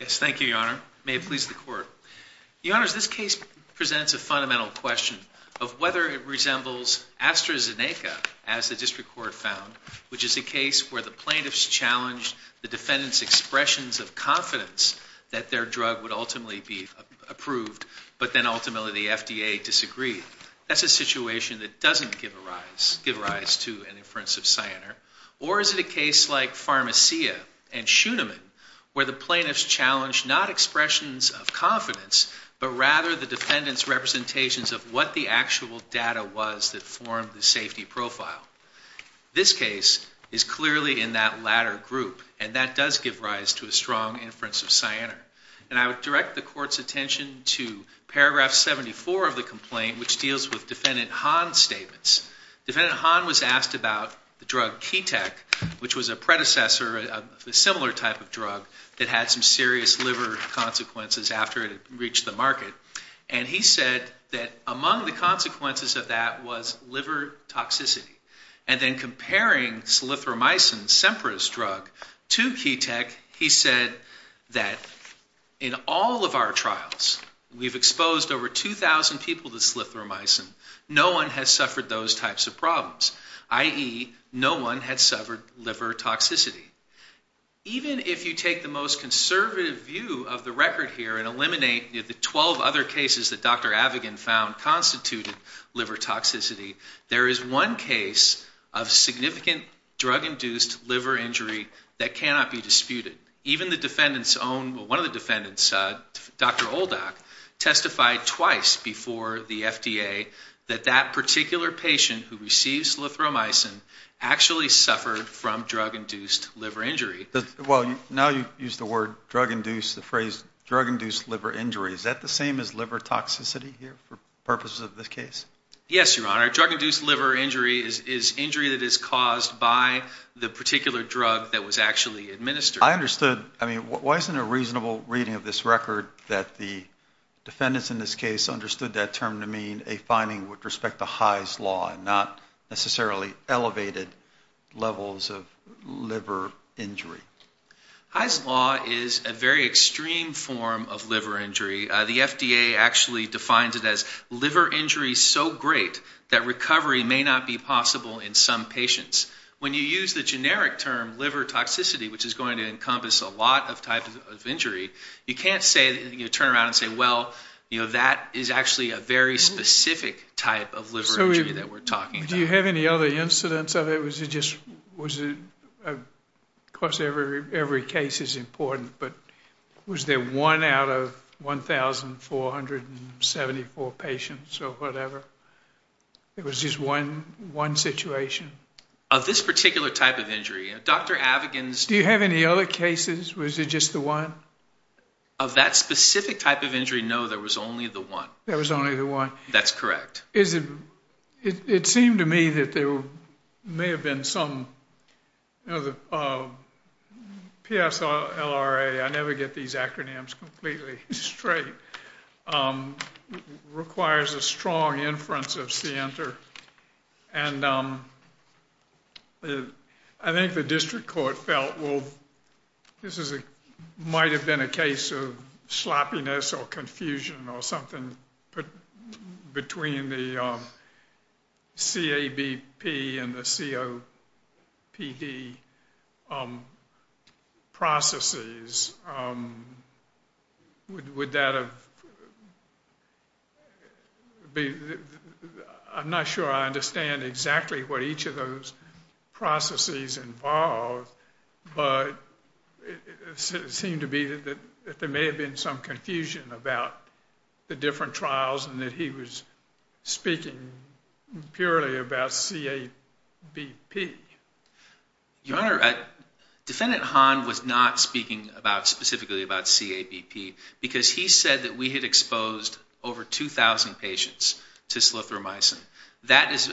Yes, thank you, Your Honor. May it please the Court. Your Honors, this case presents a fundamental question of whether it resembles AstraZeneca, as the District Court found, which is a case where the plaintiffs challenged the defendants' expressions of confidence that their drug would ultimately be approved, but then ultimately the FDA disagreed. That's a situation that doesn't give rise to an inference of Cyanar. Or is it a case like Pharmacia and Schuenemann, where the plaintiffs challenged not expressions of confidence, but rather the defendants' representations of what the actual data was that formed the safety profile? This case is clearly in that latter group, and that does give rise to a strong inference of Cyanar. And I would direct the Court's attention to paragraph 74 of the complaint, which deals with Defendant Hahn's statements. Defendant Hahn was asked about the drug Ketek, which was a predecessor of a similar type of drug that had some serious liver consequences after it had reached the market, and he said that among the consequences of that was liver toxicity. And then comparing Slythromycin, Cempra's drug, to Ketek, he said that in all of our trials, we've exposed over 2,000 people to Slythromycin. No one has suffered those types of problems, i.e. no one had suffered liver toxicity. Even if you take the most conservative view of the record here and eliminate the 12 other cases that Dr. Avigan found constituted liver toxicity, there is one case of significant drug-induced liver injury that cannot be disputed. Even one of the defendants, Dr. Oldak, testified twice before the FDA that that particular patient who received Slythromycin actually suffered from drug-induced liver injury. Well, now you use the phrase drug-induced liver injury. Is that the same as liver toxicity here for purposes of this case? Yes, Your Honor. Drug-induced liver injury is injury that is caused by the particular drug that was actually administered. I understood. I mean, why isn't a reasonable reading of this record that the defendants in this case understood that term to mean a finding with respect to High's Law and not necessarily elevated levels of liver injury? High's Law is a very extreme form of liver injury. The FDA actually defines it as liver injury so great that recovery may not be possible in some patients. When you use the generic term liver toxicity, which is going to encompass a lot of types of injury, you can't turn around and say, well, that is actually a very specific type of liver injury that we're talking about. Do you have any other incidents of it? Of course, every case is important, but was there one out of 1,474 patients or whatever? There was just one situation. Of this particular type of injury, Dr. Avigan's... Do you have any other cases? Was it just the one? Of that specific type of injury, no, there was only the one. There was only the one. That's correct. It seemed to me that there may have been some... PSLRA, I never get these acronyms completely straight, requires a strong inference of C-enter. I think the district court felt this might have been a case of sloppiness or confusion or something between the CABP and the COPD processes. Would that have been... I'm not sure I understand exactly what each of those processes involved, but it seemed to me that there may have been some confusion about the different trials and that he was speaking purely about CABP. Your Honor, Defendant Hahn was not speaking specifically about CABP because he said that we had exposed over 2,000 patients to slithromycin. That is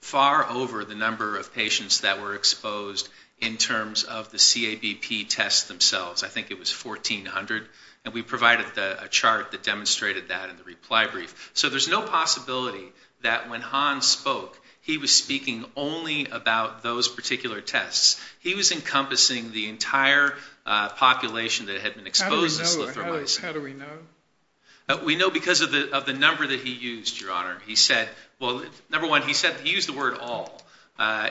far over the number of patients that were exposed in terms of the CABP tests themselves. I think it was 1,400, and we provided a chart that demonstrated that in the reply brief. So there's no possibility that when Hahn spoke, he was speaking only about those particular tests. He was encompassing the entire population that had been exposed to slithromycin. How do we know? We know because of the number that he used, Your Honor. Number one, he used the word all.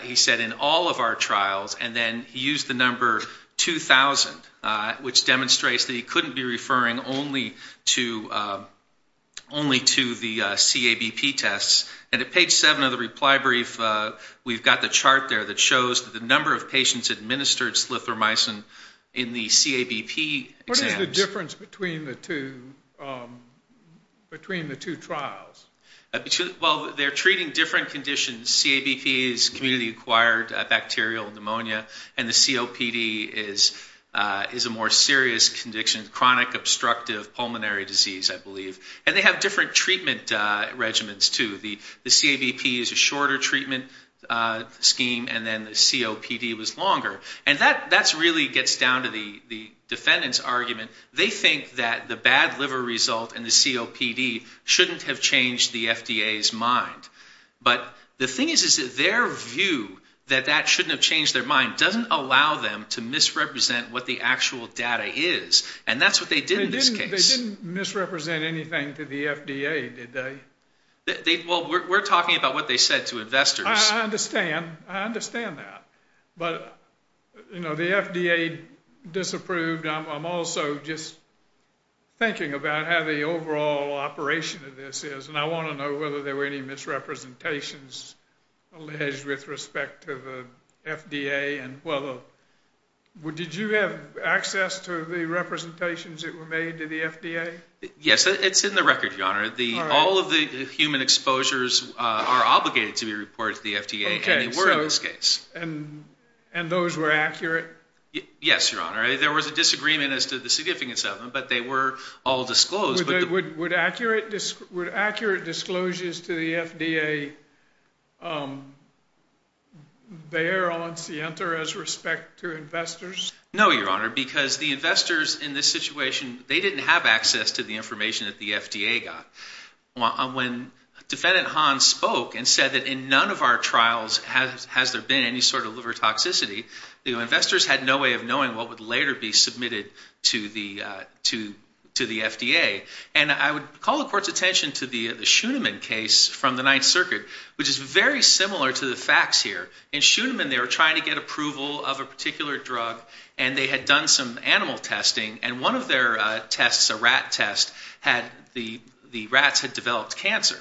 He said in all of our trials, and then he used the number 2,000, which demonstrates that he couldn't be referring only to the CABP tests. And at page 7 of the reply brief, we've got the chart there that shows the number of patients administered slithromycin in the CABP exams. What is the difference between the two trials? Well, they're treating different conditions. CABP is community-acquired bacterial pneumonia, and the COPD is a more serious condition, chronic obstructive pulmonary disease, I believe. And they have different treatment regimens, too. The CABP is a shorter treatment scheme, and then the COPD was longer. And that really gets down to the defendant's argument. They think that the bad liver result and the COPD shouldn't have changed the FDA's mind. But the thing is that their view that that shouldn't have changed their mind doesn't allow them to misrepresent what the actual data is, and that's what they did in this case. They didn't misrepresent anything to the FDA, did they? Well, we're talking about what they said to investors. I understand. I understand that. But, you know, the FDA disapproved. I'm also just thinking about how the overall operation of this is, and I want to know whether there were any misrepresentations alleged with respect to the FDA. Did you have access to the representations that were made to the FDA? Yes, it's in the record, Your Honor. All of the human exposures are obligated to be reported to the FDA, and they were in this case. And those were accurate? Yes, Your Honor. There was a disagreement as to the significance of them, but they were all disclosed. Would accurate disclosures to the FDA bear on Sienta as respect to investors? No, Your Honor, because the investors in this situation, they didn't have access to the information that the FDA got. When Defendant Hahn spoke and said that in none of our trials has there been any sort of liver toxicity, the investors had no way of knowing what would later be submitted to the FDA. And I would call the Court's attention to the Schoenemann case from the Ninth Circuit, which is very similar to the facts here. In Schoenemann, they were trying to get approval of a particular drug, and they had done some animal testing, and one of their tests, a rat test, the rats had developed cancer.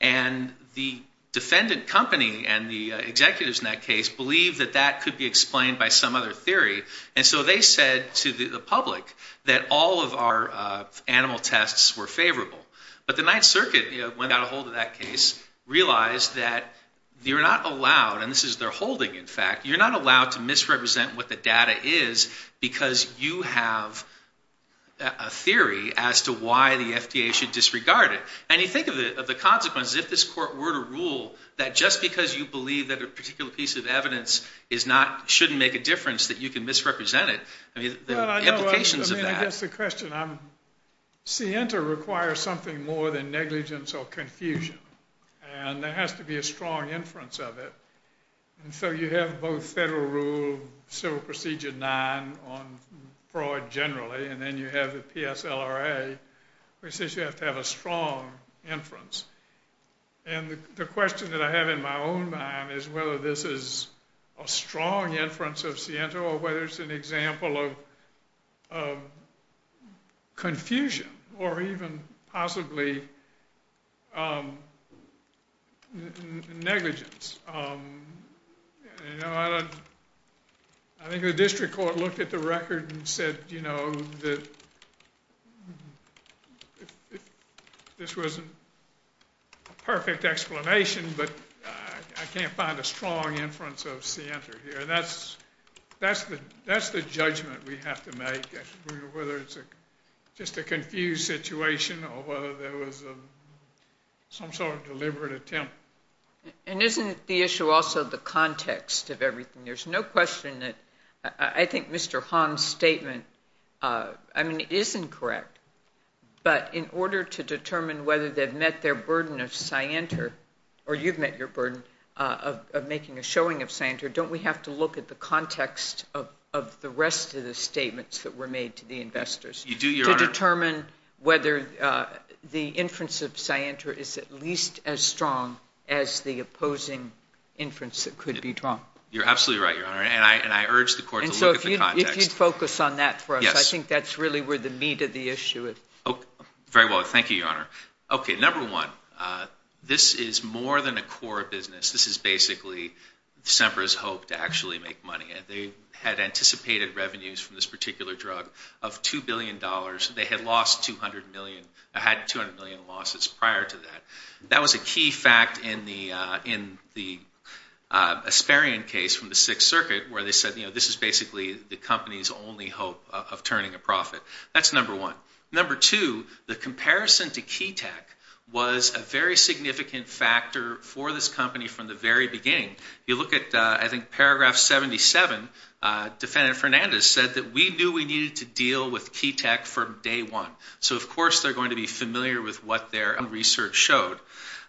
And the defendant company and the executives in that case believed that that could be explained by some other theory, and so they said to the public that all of our animal tests were favorable. But the Ninth Circuit, when they got a hold of that case, realized that you're not allowed, and this is their holding, in fact, you're not allowed to misrepresent what the data is because you have a theory as to why the FDA should disregard it. And you think of the consequences if this Court were to rule that just because you believe that a particular piece of evidence shouldn't make a difference that you can misrepresent it. I mean, the implications of that. I mean, I guess the question, CENTER requires something more than negligence or confusion, and there has to be a strong inference of it. And so you have both federal rule, Civil Procedure 9 on fraud generally, and then you have the PSLRA, which says you have to have a strong inference. And the question that I have in my own mind is whether this is a strong inference of CENTER or whether it's an example of confusion or even possibly negligence. You know, I think the district court looked at the record and said, you know, that this wasn't a perfect explanation, but I can't find a strong inference of CENTER here. That's the judgment we have to make, whether it's just a confused situation or whether there was some sort of deliberate attempt. And isn't the issue also the context of everything? There's no question that I think Mr. Han's statement, I mean, isn't correct. But in order to determine whether they've met their burden of CENTER, or you've met your burden of making a showing of CENTER, don't we have to look at the context of the rest of the statements that were made to the investors? You do, Your Honor. To determine whether the inference of CENTER is at least as strong as the opposing inference that could be drawn. You're absolutely right, Your Honor, and I urge the court to look at the context. And so if you'd focus on that for us, I think that's really where the meat of the issue is. Very well, thank you, Your Honor. Okay, number one, this is more than a core business. This is basically SEMPRA's hope to actually make money. They had anticipated revenues from this particular drug of $2 billion. They had lost 200 million, had 200 million losses prior to that. That was a key fact in the Asperian case from the Sixth Circuit, where they said, you know, this is basically the company's only hope of turning a profit. That's number one. Number two, the comparison to Keytech was a very significant factor for this company from the very beginning. If you look at, I think, paragraph 77, Defendant Fernandez said that we knew we needed to deal with Keytech from day one. So, of course, they're going to be familiar with what their own research showed.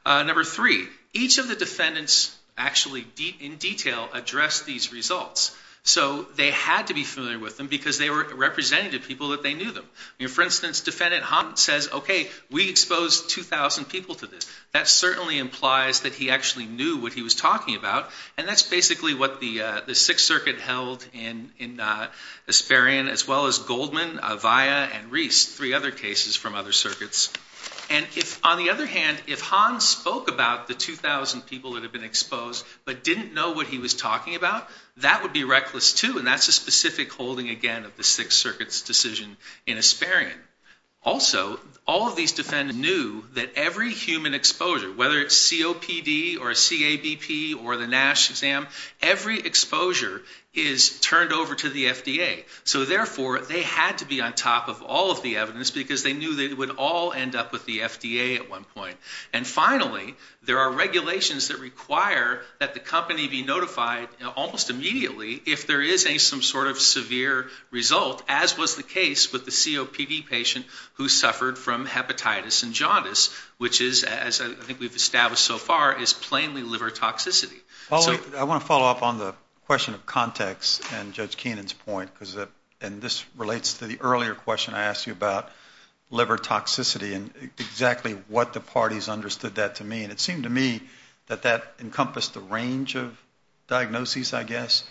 Number three, each of the defendants actually, in detail, addressed these results. So they had to be familiar with them because they were representing to people that they knew them. For instance, Defendant Holland says, okay, we exposed 2,000 people to this. That certainly implies that he actually knew what he was talking about, and that's basically what the Sixth Circuit held in Asperian, as well as Goldman, Avaya, and Reese, three other cases from other circuits. And if, on the other hand, if Hans spoke about the 2,000 people that had been exposed but didn't know what he was talking about, that would be reckless, too, and that's a specific holding, again, of the Sixth Circuit's decision in Asperian. Also, all of these defendants knew that every human exposure, whether it's COPD or a CABP or the NASH exam, every exposure is turned over to the FDA. So, therefore, they had to be on top of all of the evidence because they knew they would all end up with the FDA at one point. And finally, there are regulations that require that the company be notified almost immediately if there is some sort of severe result, as was the case with the COPD patient who suffered from hepatitis and jaundice, which is, as I think we've established so far, is plainly liver toxicity. I want to follow up on the question of context and Judge Keenan's point, and this relates to the earlier question I asked you about liver toxicity and exactly what the parties understood that to mean. It seemed to me that that encompassed a range of diagnoses, I guess,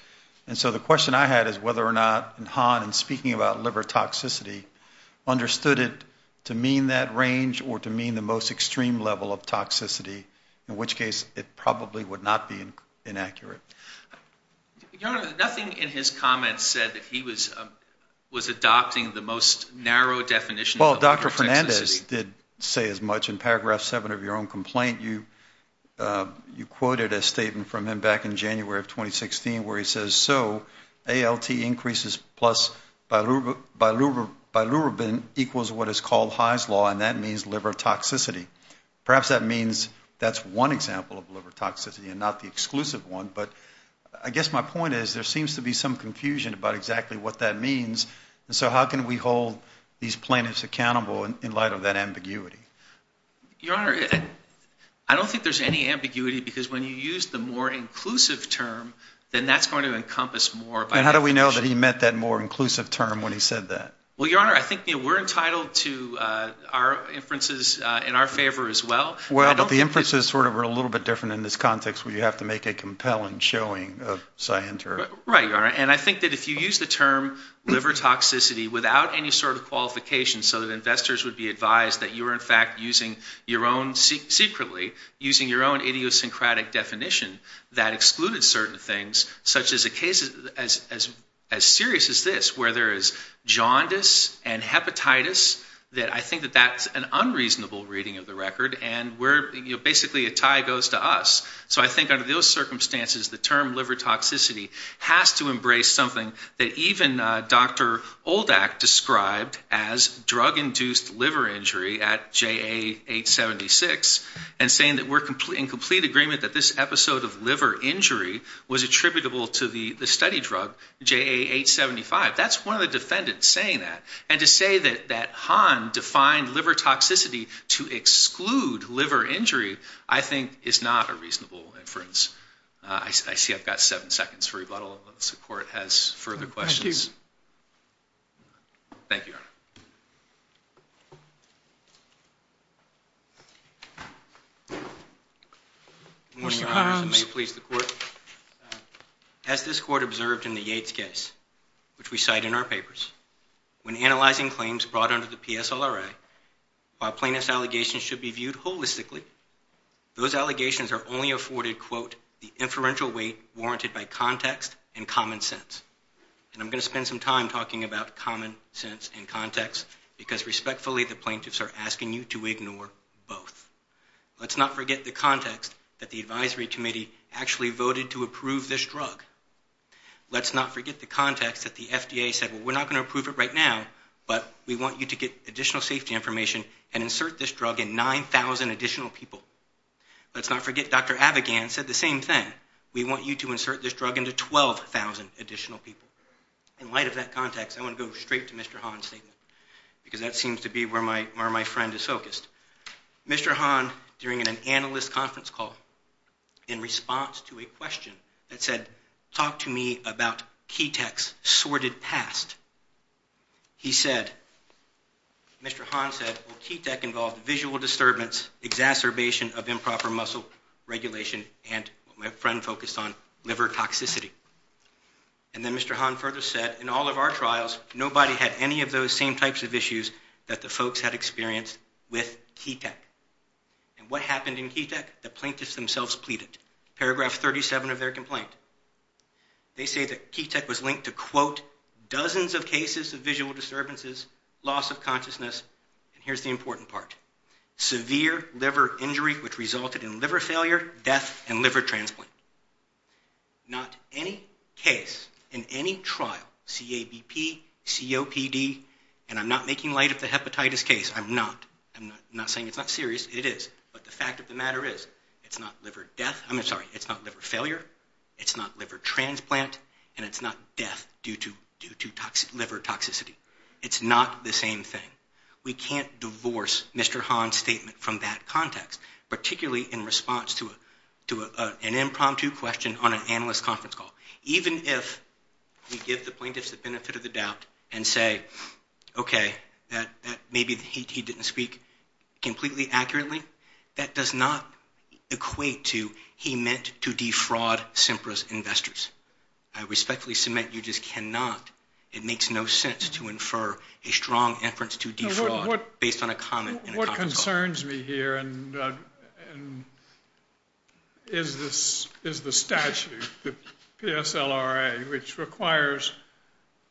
and so the question I had is whether or not Han, in speaking about liver toxicity, understood it to mean that range or to mean the most extreme level of toxicity, in which case it probably would not be inaccurate. Your Honor, nothing in his comments said that he was adopting the most narrow definition of liver toxicity. Hernandez did say as much. In Paragraph 7 of your own complaint, you quoted a statement from him back in January of 2016 where he says, so ALT increases plus bilirubin equals what is called High's Law, and that means liver toxicity. Perhaps that means that's one example of liver toxicity and not the exclusive one, but I guess my point is there seems to be some confusion about exactly what that means, and so how can we hold these plaintiffs accountable in light of that ambiguity? Your Honor, I don't think there's any ambiguity because when you use the more inclusive term, then that's going to encompass more by definition. And how do we know that he meant that more inclusive term when he said that? Well, Your Honor, I think we're entitled to our inferences in our favor as well. Well, but the inferences sort of are a little bit different in this context where you have to make a compelling showing of cyanide. Right, Your Honor, and I think that if you use the term liver toxicity without any sort of qualification so that investors would be advised that you were in fact using your own secretly, using your own idiosyncratic definition that excluded certain things such as a case as serious as this where there is jaundice and hepatitis, that I think that that's an unreasonable reading of the record, and basically a tie goes to us. So I think under those circumstances, the term liver toxicity has to embrace something that even Dr. Oldak described as drug-induced liver injury at JA876 and saying that we're in complete agreement that this episode of liver injury was attributable to the study drug JA875. That's one of the defendants saying that. And to say that Hahn defined liver toxicity to exclude liver injury I think is not a reasonable inference. I see I've got seven seconds for rebuttal unless the Court has further questions. Thank you. Thank you, Your Honor. May it please the Court. As this Court observed in the Yates case, which we cite in our papers, when analyzing claims brought under the PSLRA, while plaintiff's allegations should be viewed holistically, those allegations are only afforded, quote, the inferential weight warranted by context and common sense. And I'm going to spend some time talking about common sense and context because respectfully the plaintiffs are asking you to ignore both. Let's not forget the context that the advisory committee actually voted to approve this drug. Let's not forget the context that the FDA said, well, we're not going to approve it right now, but we want you to get additional safety information and insert this drug in 9,000 additional people. Let's not forget Dr. Avigan said the same thing. We want you to insert this drug into 12,000 additional people. In light of that context, I want to go straight to Mr. Hahn's statement because that seems to be where my friend is focused. Mr. Hahn, during an analyst conference call, in response to a question that said, talk to me about Ketek's sordid past, he said, Mr. Hahn said, well, Ketek involved visual disturbance, exacerbation of improper muscle regulation, and what my friend focused on, liver toxicity. And then Mr. Hahn further said, in all of our trials, nobody had any of those same types of issues that the folks had experienced with Ketek. And what happened in Ketek? The plaintiffs themselves pleaded. Paragraph 37 of their complaint. They say that Ketek was linked to, quote, dozens of cases of visual disturbances, loss of consciousness, and here's the important part, severe liver injury which resulted in liver failure, death, and liver transplant. Not any case in any trial, CABP, COPD, and I'm not making light of the hepatitis case, I'm not. I'm not saying it's not serious, it is. But the fact of the matter is, it's not liver death, I'm sorry, it's not liver failure, it's not liver transplant, and it's not death due to liver toxicity. It's not the same thing. We can't divorce Mr. Hahn's statement from that context, particularly in response to an impromptu question on an analyst conference call. Even if we give the plaintiffs the benefit of the doubt and say, okay, maybe he didn't speak completely accurately, that does not equate to he meant to defraud SEMPRA's investors. I respectfully submit you just cannot. It makes no sense to infer a strong inference to defraud based on a comment in a conference call. What concerns me here is the statute, the PSLRA, which requires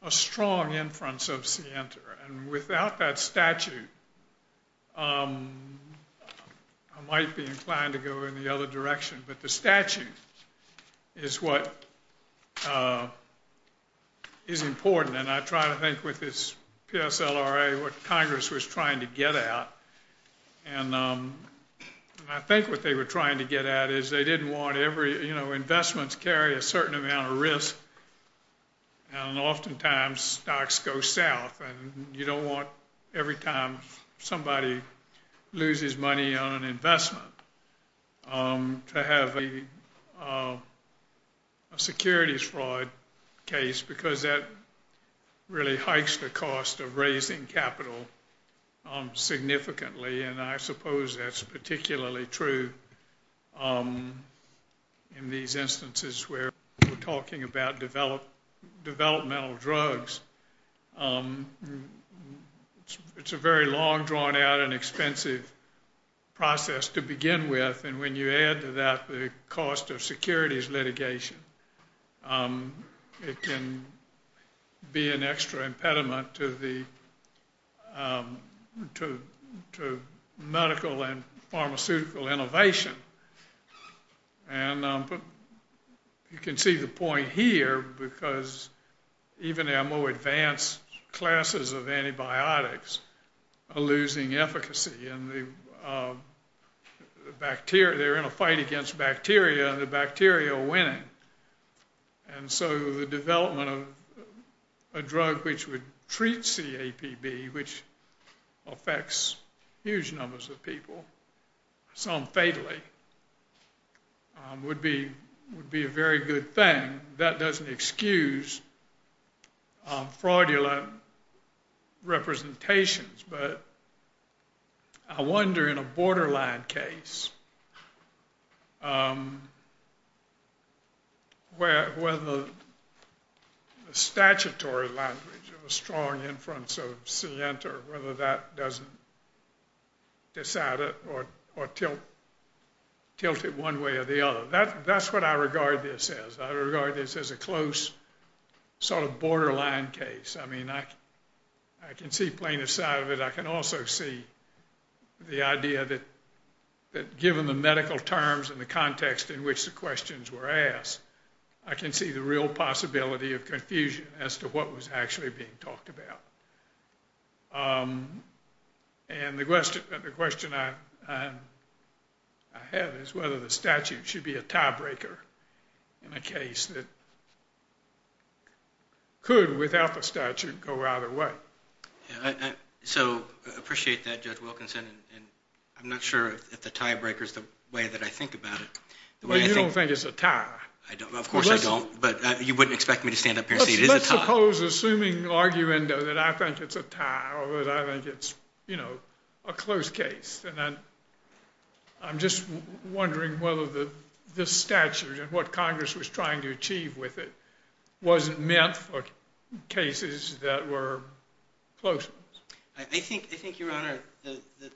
a strong inference of SEMPRA. And without that statute, I might be inclined to go in the other direction. But the statute is what is important. And I try to think with this PSLRA what Congress was trying to get at. And I think what they were trying to get at is they didn't want every, you know, investments carry a certain amount of risk, and oftentimes stocks go south. And you don't want every time somebody loses money on an investment to have a securities fraud case because that really hikes the cost of raising capital significantly. And I suppose that's particularly true in these instances where we're talking about developmental drugs. It's a very long, drawn-out, and expensive process to begin with. And when you add to that the cost of securities litigation, it can be an extra impediment to medical and pharmaceutical innovation. And you can see the point here because even our more advanced classes of antibiotics are losing efficacy, and they're in a fight against bacteria, and the bacteria are winning. And so the development of a drug which would treat CAPB, which affects huge numbers of people, some fatally, would be a very good thing. And that doesn't excuse fraudulent representations, but I wonder in a borderline case whether the statutory language of a strong inference of SIENTA, whether that doesn't disout it or tilt it one way or the other. That's what I regard this as. I regard this as a close sort of borderline case. I mean, I can see plaintiff's side of it. I can also see the idea that given the medical terms and the context in which the questions were asked, I can see the real possibility of confusion as to what was actually being talked about. And the question I have is whether the statute should be a tiebreaker in a case that could, without the statute, go either way. So I appreciate that, Judge Wilkinson, and I'm not sure if the tiebreaker is the way that I think about it. But you don't think it's a tie? Of course I don't, but you wouldn't expect me to stand up here and say it is a tie. I suppose assuming arguendo that I think it's a tie or that I think it's, you know, a close case. And I'm just wondering whether this statute and what Congress was trying to achieve with it wasn't meant for cases that were close. I think, Your Honor,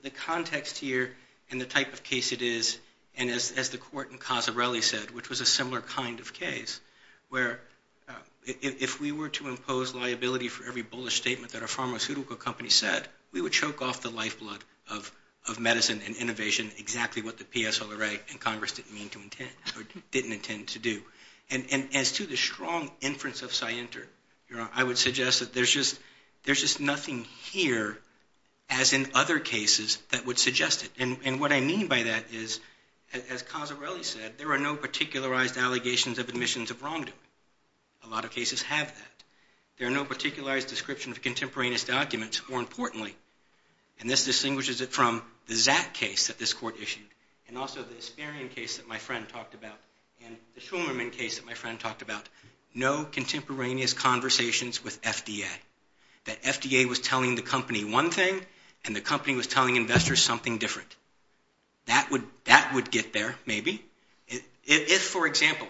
the context here and the type of case it is, and as the court in Casarelli said, which was a similar kind of case, where if we were to impose liability for every bullish statement that a pharmaceutical company said, we would choke off the lifeblood of medicine and innovation, exactly what the PSLRA and Congress didn't mean to intend or didn't intend to do. And as to the strong inference of Sienter, Your Honor, I would suggest that there's just nothing here as in other cases that would suggest it. And what I mean by that is, as Casarelli said, that there are no particularized allegations of admissions of wrongdoing. A lot of cases have that. There are no particularized descriptions of contemporaneous documents, more importantly. And this distinguishes it from the Zack case that this court issued and also the Asperian case that my friend talked about and the Shulman case that my friend talked about. No contemporaneous conversations with FDA. That FDA was telling the company one thing and the company was telling investors something different. That would get there, maybe. If, for example,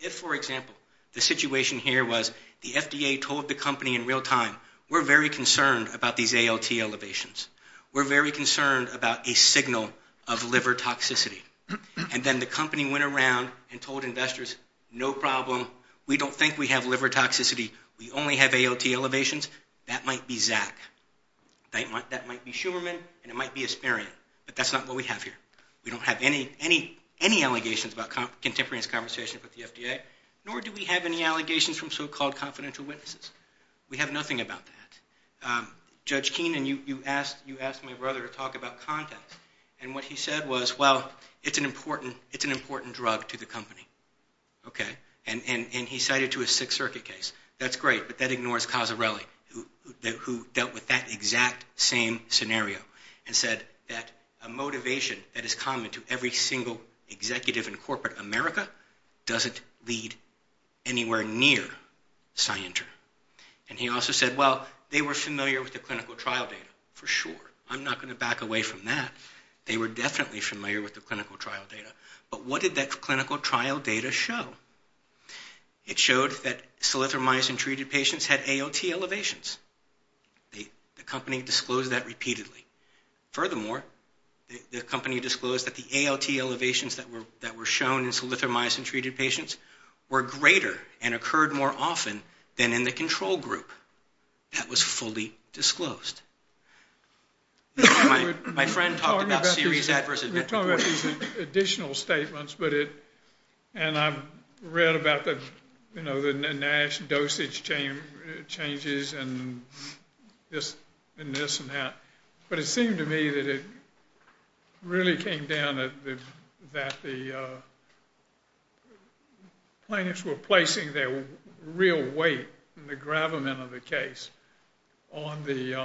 the situation here was the FDA told the company in real time, we're very concerned about these ALT elevations. We're very concerned about a signal of liver toxicity. And then the company went around and told investors, no problem. We don't think we have liver toxicity. We only have ALT elevations. That might be Zack. That might be Shulman, and it might be Asperian, but that's not what we have here. We don't have any allegations about contemporaneous conversations with the FDA, nor do we have any allegations from so-called confidential witnesses. We have nothing about that. Judge Keenan, you asked my brother to talk about context, and what he said was, well, it's an important drug to the company. And he cited it to a Sixth Circuit case. That's great, but that ignores Casarelli, who dealt with that exact same scenario and said that a motivation that is common to every single executive in corporate America doesn't lead anywhere near Cyanter. And he also said, well, they were familiar with the clinical trial data, for sure. I'm not going to back away from that. They were definitely familiar with the clinical trial data. But what did that clinical trial data show? It showed that silythromycin-treated patients had AOT elevations. The company disclosed that repeatedly. Furthermore, the company disclosed that the AOT elevations that were shown in silythromycin-treated patients were greater and occurred more often than in the control group. That was fully disclosed. My friend talked about series adverse events. I'm talking about these additional statements, and I've read about the NASH dosage changes and this and that. But it seemed to me that it really came down to that the plaintiffs were placing their real weight and the gravamen of the case on the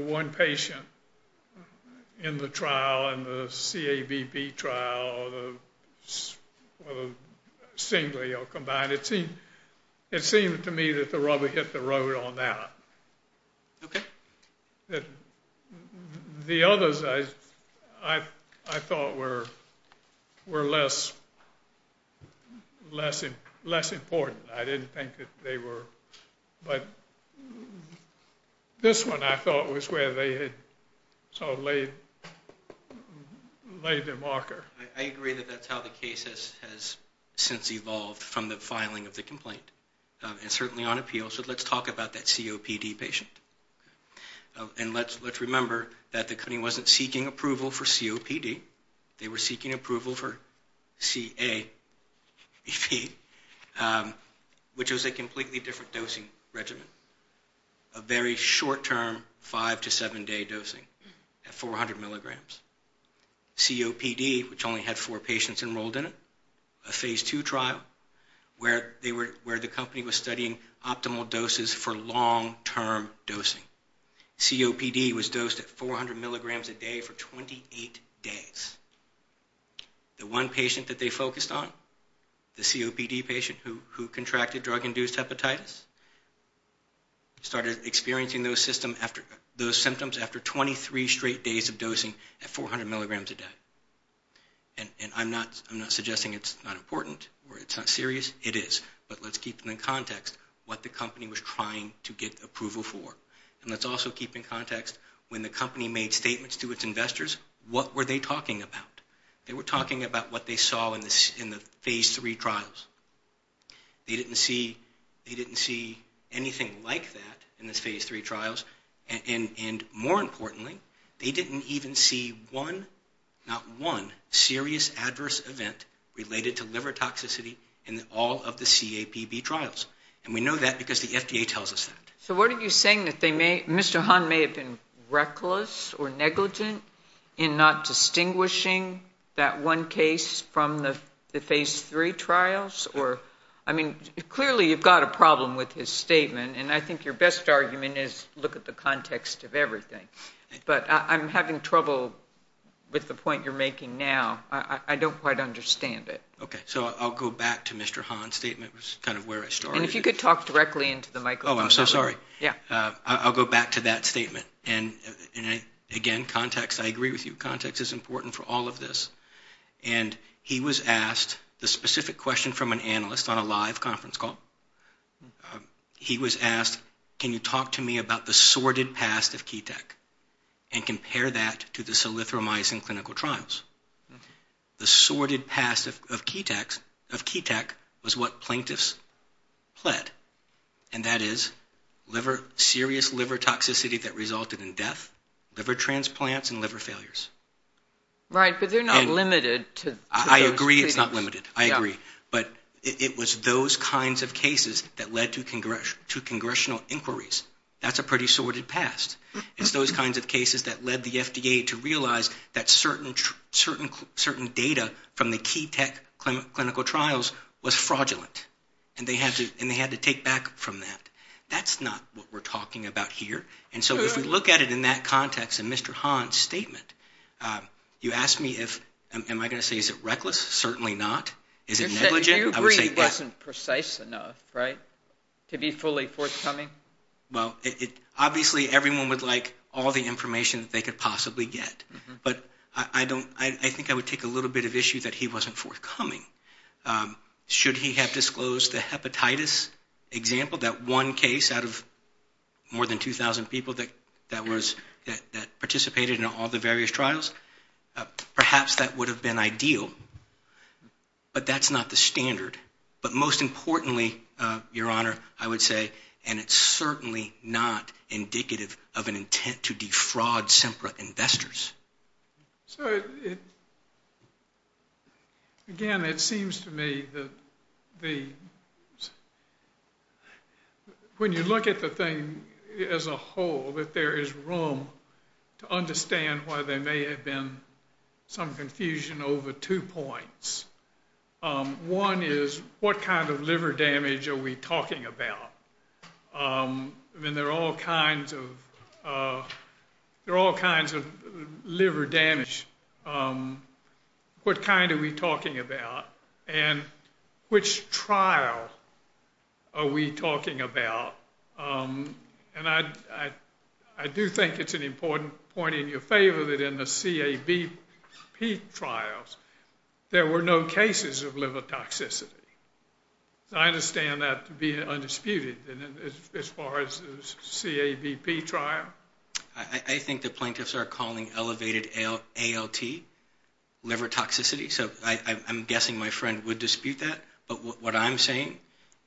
one patient in the trial, in the CABB trial, singly or combined. It seemed to me that the rubber hit the road on that. The others, I thought, were less important. I didn't think that they were. But this one, I thought, was where they had sort of laid their marker. I agree that that's how the case has since evolved from the filing of the complaint and certainly on appeal. So let's talk about that COPD patient. And let's remember that the company wasn't seeking approval for COPD. They were seeking approval for CABP, which was a completely different dosing regimen, a very short-term five- to seven-day dosing at 400 milligrams. COPD, which only had four patients enrolled in it, a Phase II trial, where the company was studying optimal doses for long-term dosing. COPD was dosed at 400 milligrams a day for 28 days. The one patient that they focused on, the COPD patient who contracted drug-induced hepatitis, started experiencing those symptoms after 23 straight days of dosing at 400 milligrams a day. And I'm not suggesting it's not important or it's not serious. It is, but let's keep it in context, what the company was trying to get approval for. And let's also keep in context, when the company made statements to its investors, what were they talking about? They were talking about what they saw in the Phase III trials. They didn't see anything like that in the Phase III trials. And more importantly, they didn't even see one, not one, serious adverse event related to liver toxicity in all of the CAPB trials. And we know that because the FDA tells us that. So what are you saying, that Mr. Hahn may have been reckless or negligent in not distinguishing that one case from the Phase III trials? I mean, clearly you've got a problem with his statement, and I think your best argument is look at the context of everything. But I'm having trouble with the point you're making now. I don't quite understand it. Okay. So I'll go back to Mr. Hahn's statement, which is kind of where I started. And if you could talk directly into the microphone. Oh, I'm so sorry. Yeah. I'll go back to that statement. And, again, context. I agree with you. Context is important for all of this. And he was asked the specific question from an analyst on a live conference call. He was asked, can you talk to me about the sordid past of Keteq and compare that to the solithromycin clinical trials? The sordid past of Keteq was what plaintiffs pled, and that is serious liver toxicity that resulted in death, liver transplants, and liver failures. Right. But they're not limited to those things. I agree it's not limited. I agree. But it was those kinds of cases that led to congressional inquiries. That's a pretty sordid past. It's those kinds of cases that led the FDA to realize that certain data from the Keteq clinical trials was fraudulent, and they had to take back from that. That's not what we're talking about here. And so if we look at it in that context in Mr. Hahn's statement, you asked me if, am I going to say is it reckless? Certainly not. Is it negligent? I would say yes. You agree it wasn't precise enough, right, to be fully forthcoming? Well, obviously everyone would like all the information that they could possibly get, but I think I would take a little bit of issue that he wasn't forthcoming. Should he have disclosed the hepatitis example, that one case out of more than 2,000 people that participated in all the various trials, perhaps that would have been ideal. But that's not the standard. But most importantly, Your Honor, I would say, and it's certainly not indicative of an intent to defraud SEMPRA investors. So again, it seems to me that when you look at the thing as a whole, that there is room to understand why there may have been some confusion over two points. One is, what kind of liver damage are we talking about? I mean, there are all kinds of liver damage. What kind are we talking about? And which trial are we talking about? And I do think it's an important point in your favor that in the CABP trials there were no cases of liver toxicity. I understand that to be undisputed as far as the CABP trial. I think the plaintiffs are calling elevated ALT liver toxicity, so I'm guessing my friend would dispute that. But what I'm saying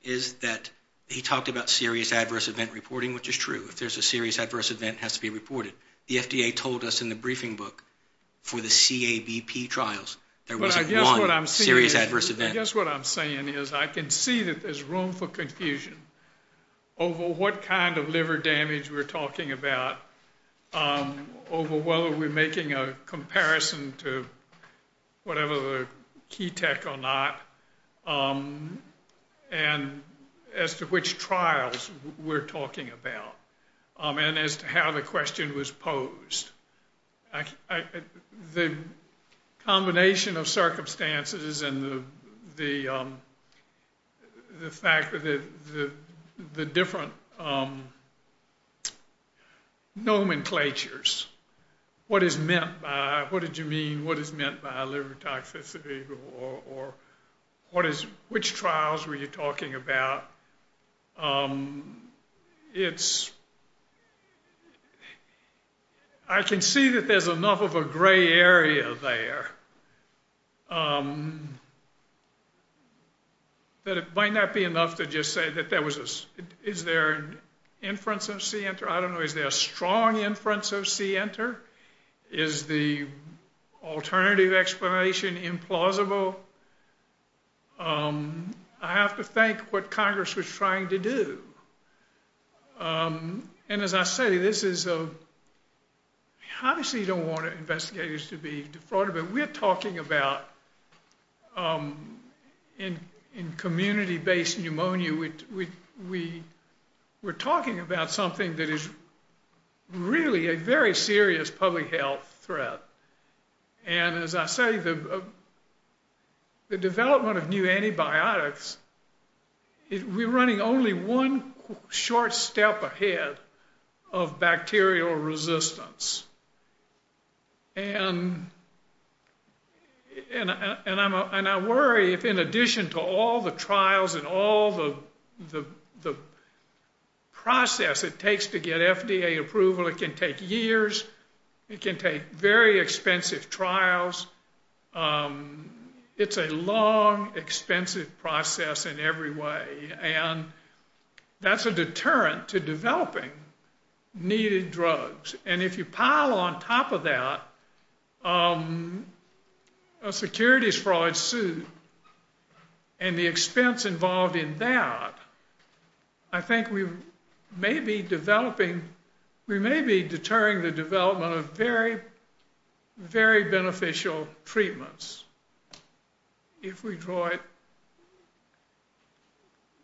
is that he talked about serious adverse event reporting, which is true. If there's a serious adverse event, it has to be reported. The FDA told us in the briefing book for the CABP trials there wasn't one serious adverse event. I guess what I'm saying is I can see that there's room for confusion over what kind of liver damage we're talking about, over whether we're making a comparison to whatever the key tech or not, and as to which trials we're talking about, and as to how the question was posed. The combination of circumstances and the fact that the different nomenclatures, what is meant by, what did you mean, what is meant by liver toxicity, or which trials were you talking about, it's, I can see that there's enough of a gray area there, that it might not be enough to just say that there was a, is there an inference of C-enter? I don't know, is there a strong inference of C-enter? Is the alternative explanation implausible? So I have to thank what Congress was trying to do. And as I say, this is a, obviously you don't want investigators to be defrauded, but we're talking about, in community-based pneumonia, we're talking about something that is really a very serious public health threat. And as I say, the development of new antibiotics, we're running only one short step ahead of bacterial resistance. And I worry if in addition to all the trials and all the process it takes to get FDA approval, it can take years, it can take very expensive trials, it's a long, expensive process in every way, and that's a deterrent to developing needed drugs. And if you pile on top of that a securities fraud suit and the expense involved in that, I think we may be developing, we may be deterring the development of very, very beneficial treatments. If we draw it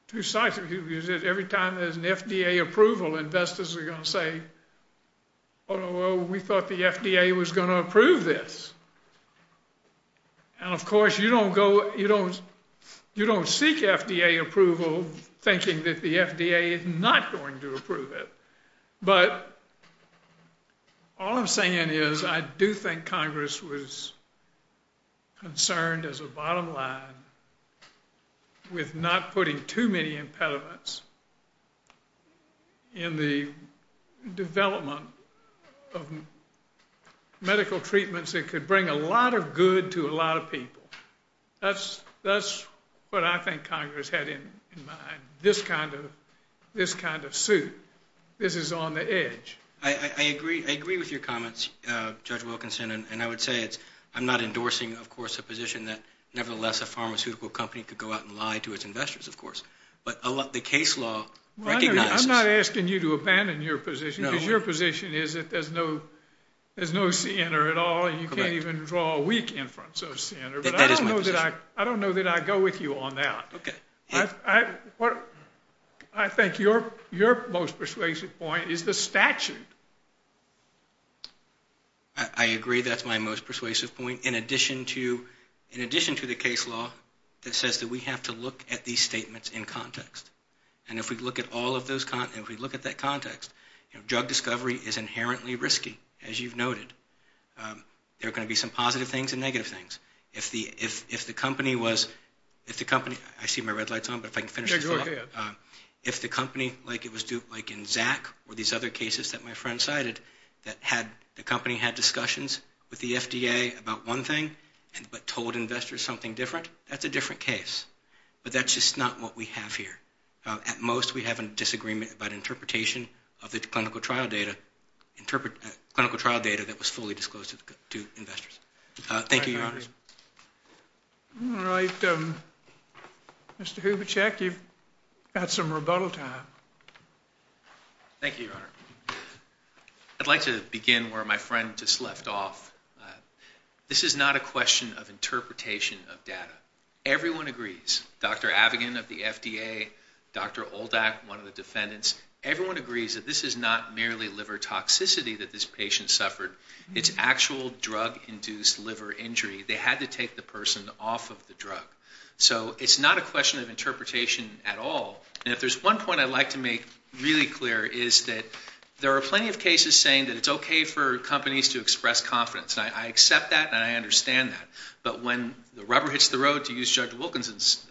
to size, because every time there's an FDA approval, investors are going to say, oh, we thought the FDA was going to approve this. And of course you don't go, you don't seek FDA approval thinking that the FDA is not going to approve it. But all I'm saying is I do think Congress was concerned as a bottom line with not putting too many impediments in the development of medical treatments that could bring a lot of good to a lot of people. That's what I think Congress had in mind, this kind of suit. This is on the edge. I agree with your comments, Judge Wilkinson, and I would say I'm not endorsing, of course, a position that nevertheless a pharmaceutical company could go out and lie to its investors, of course. But the case law recognizes that. I'm not asking you to abandon your position, because your position is that there's no sinner at all, and you can't even draw a weak inference of a sinner. But I don't know that I go with you on that. I think your most persuasive point is the statute. I agree that's my most persuasive point, in addition to the case law that says that we have to look at these statements in context. And if we look at that context, drug discovery is inherently risky, as you've noted. There are going to be some positive things and negative things. If the company was – I see my red lights on, but if I can finish the thought. Yeah, go ahead. If the company, like in Zach or these other cases that my friend cited, that the company had discussions with the FDA about one thing, but told investors something different, that's a different case. But that's just not what we have here. At most, we have a disagreement about interpretation of the clinical trial data that was fully disclosed to investors. Thank you, Your Honor. All right. Mr. Hubachek, you've got some rebuttal time. Thank you, Your Honor. I'd like to begin where my friend just left off. This is not a question of interpretation of data. Everyone agrees. Dr. Avigan of the FDA, Dr. Oldak, one of the defendants, everyone agrees that this is not merely liver toxicity that this patient suffered. It's actual drug-induced liver injury. They had to take the person off of the drug. So it's not a question of interpretation at all. And if there's one point I'd like to make really clear is that there are plenty of cases saying that it's okay for companies to express confidence. I accept that and I understand that. But when the rubber hits the road, to use Judge Wilkinson's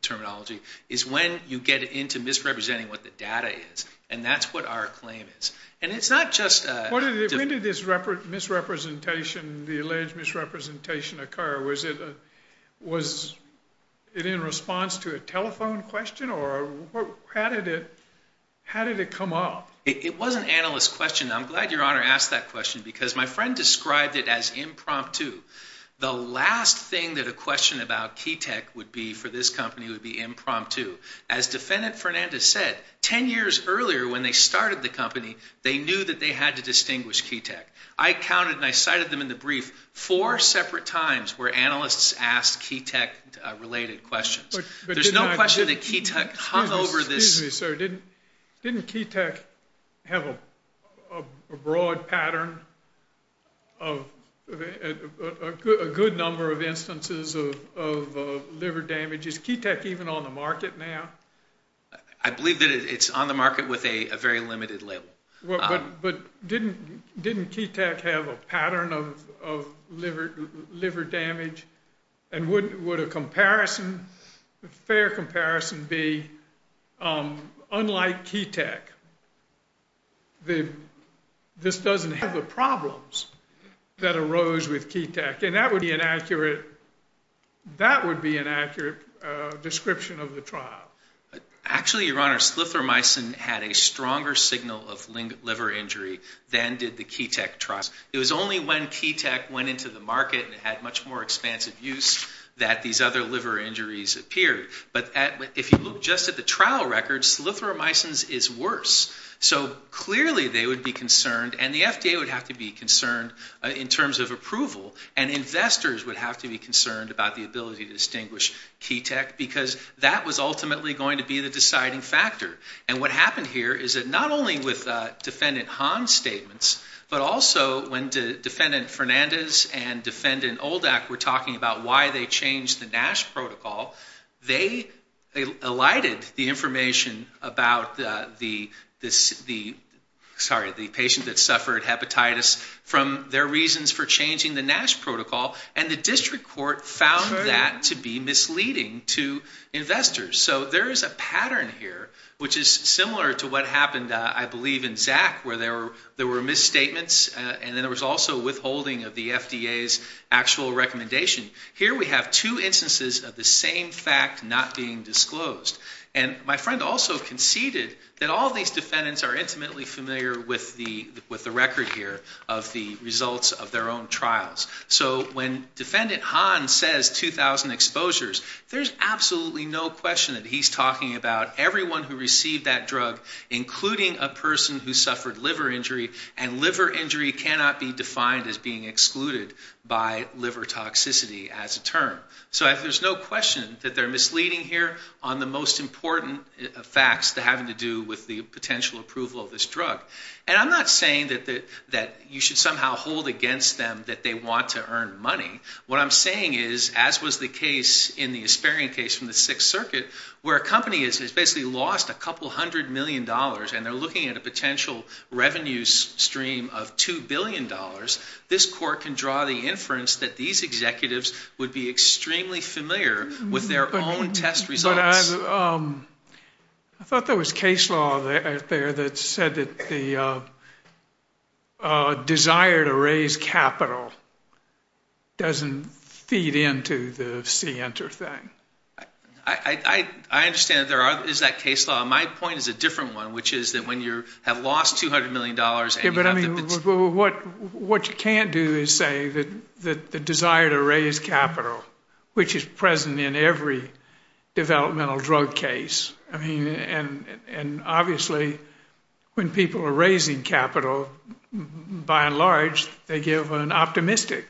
terminology, is when you get into misrepresenting what the data is. And that's what our claim is. And it's not just a... When did this misrepresentation, the alleged misrepresentation occur? Was it in response to a telephone question? Or how did it come up? It was an analyst question. I'm glad Your Honor asked that question because my friend described it as impromptu. The last thing that a question about Ketek would be for this company would be impromptu. As Defendant Fernandez said, 10 years earlier when they started the company, they knew that they had to distinguish Ketek. I counted and I cited them in the brief four separate times where analysts asked Ketek-related questions. There's no question that Ketek hung over this... a good number of instances of liver damage. Is Ketek even on the market now? I believe that it's on the market with a very limited label. But didn't Ketek have a pattern of liver damage? And would a comparison, a fair comparison be, unlike Ketek, this doesn't have the problems that arose with Ketek? And that would be an accurate description of the trial. Actually, Your Honor, Slytheromycin had a stronger signal of liver injury than did the Ketek trial. It was only when Ketek went into the market and had much more expansive use that these other liver injuries appeared. But if you look just at the trial records, Slytheromycin is worse. So clearly they would be concerned and the FDA would have to be concerned in terms of approval and investors would have to be concerned about the ability to distinguish Ketek because that was ultimately going to be the deciding factor. And what happened here is that not only with Defendant Hahn's statements, but also when Defendant Fernandez and Defendant Oldak were talking about why they changed the NASH protocol, they alighted the information about the patient that suffered hepatitis from their reasons for changing the NASH protocol, and the district court found that to be misleading to investors. So there is a pattern here, which is similar to what happened, I believe, in Zach, where there were misstatements and then there was also withholding of the FDA's actual recommendation. Here we have two instances of the same fact not being disclosed. And my friend also conceded that all these defendants are intimately familiar with the record here of the results of their own trials. So when Defendant Hahn says 2,000 exposures, there's absolutely no question that he's talking about everyone who received that drug, including a person who suffered liver injury, and liver injury cannot be defined as being excluded by liver toxicity as a term. So there's no question that they're misleading here on the most important facts that have to do with the potential approval of this drug. And I'm not saying that you should somehow hold against them that they want to earn money. What I'm saying is, as was the case in the Asparian case from the Sixth Circuit, where a company has basically lost a couple hundred million dollars and they're looking at a potential revenue stream of $2 billion, this court can draw the inference that these executives would be extremely familiar with their own test results. But I thought there was case law out there that said that the desire to raise capital doesn't feed into the see, enter thing. I understand that there is that case law. My point is a different one, which is that when you have lost $200 million and you have the potential But what you can't do is say that the desire to raise capital, which is present in every developmental drug case, and obviously when people are raising capital, by and large, they give an optimistic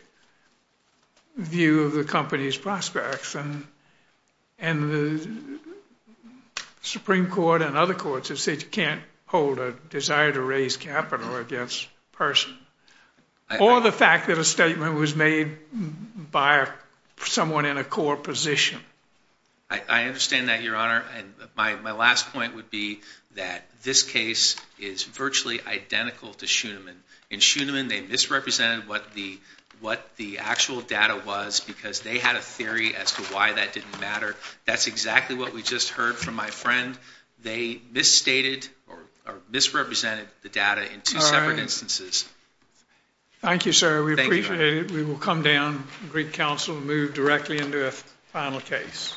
view of the company's prospects. And the Supreme Court and other courts have said you can't hold a desire to raise capital against a person. Or the fact that a statement was made by someone in a core position. I understand that, Your Honor. And my last point would be that this case is virtually identical to Schoenemann. In Schoenemann, they misrepresented what the actual data was because they had a theory as to why that didn't matter. That's exactly what we just heard from my friend. They misstated or misrepresented the data in two separate instances. Thank you, sir. We appreciate it. We will come down and greet counsel and move directly into a final case.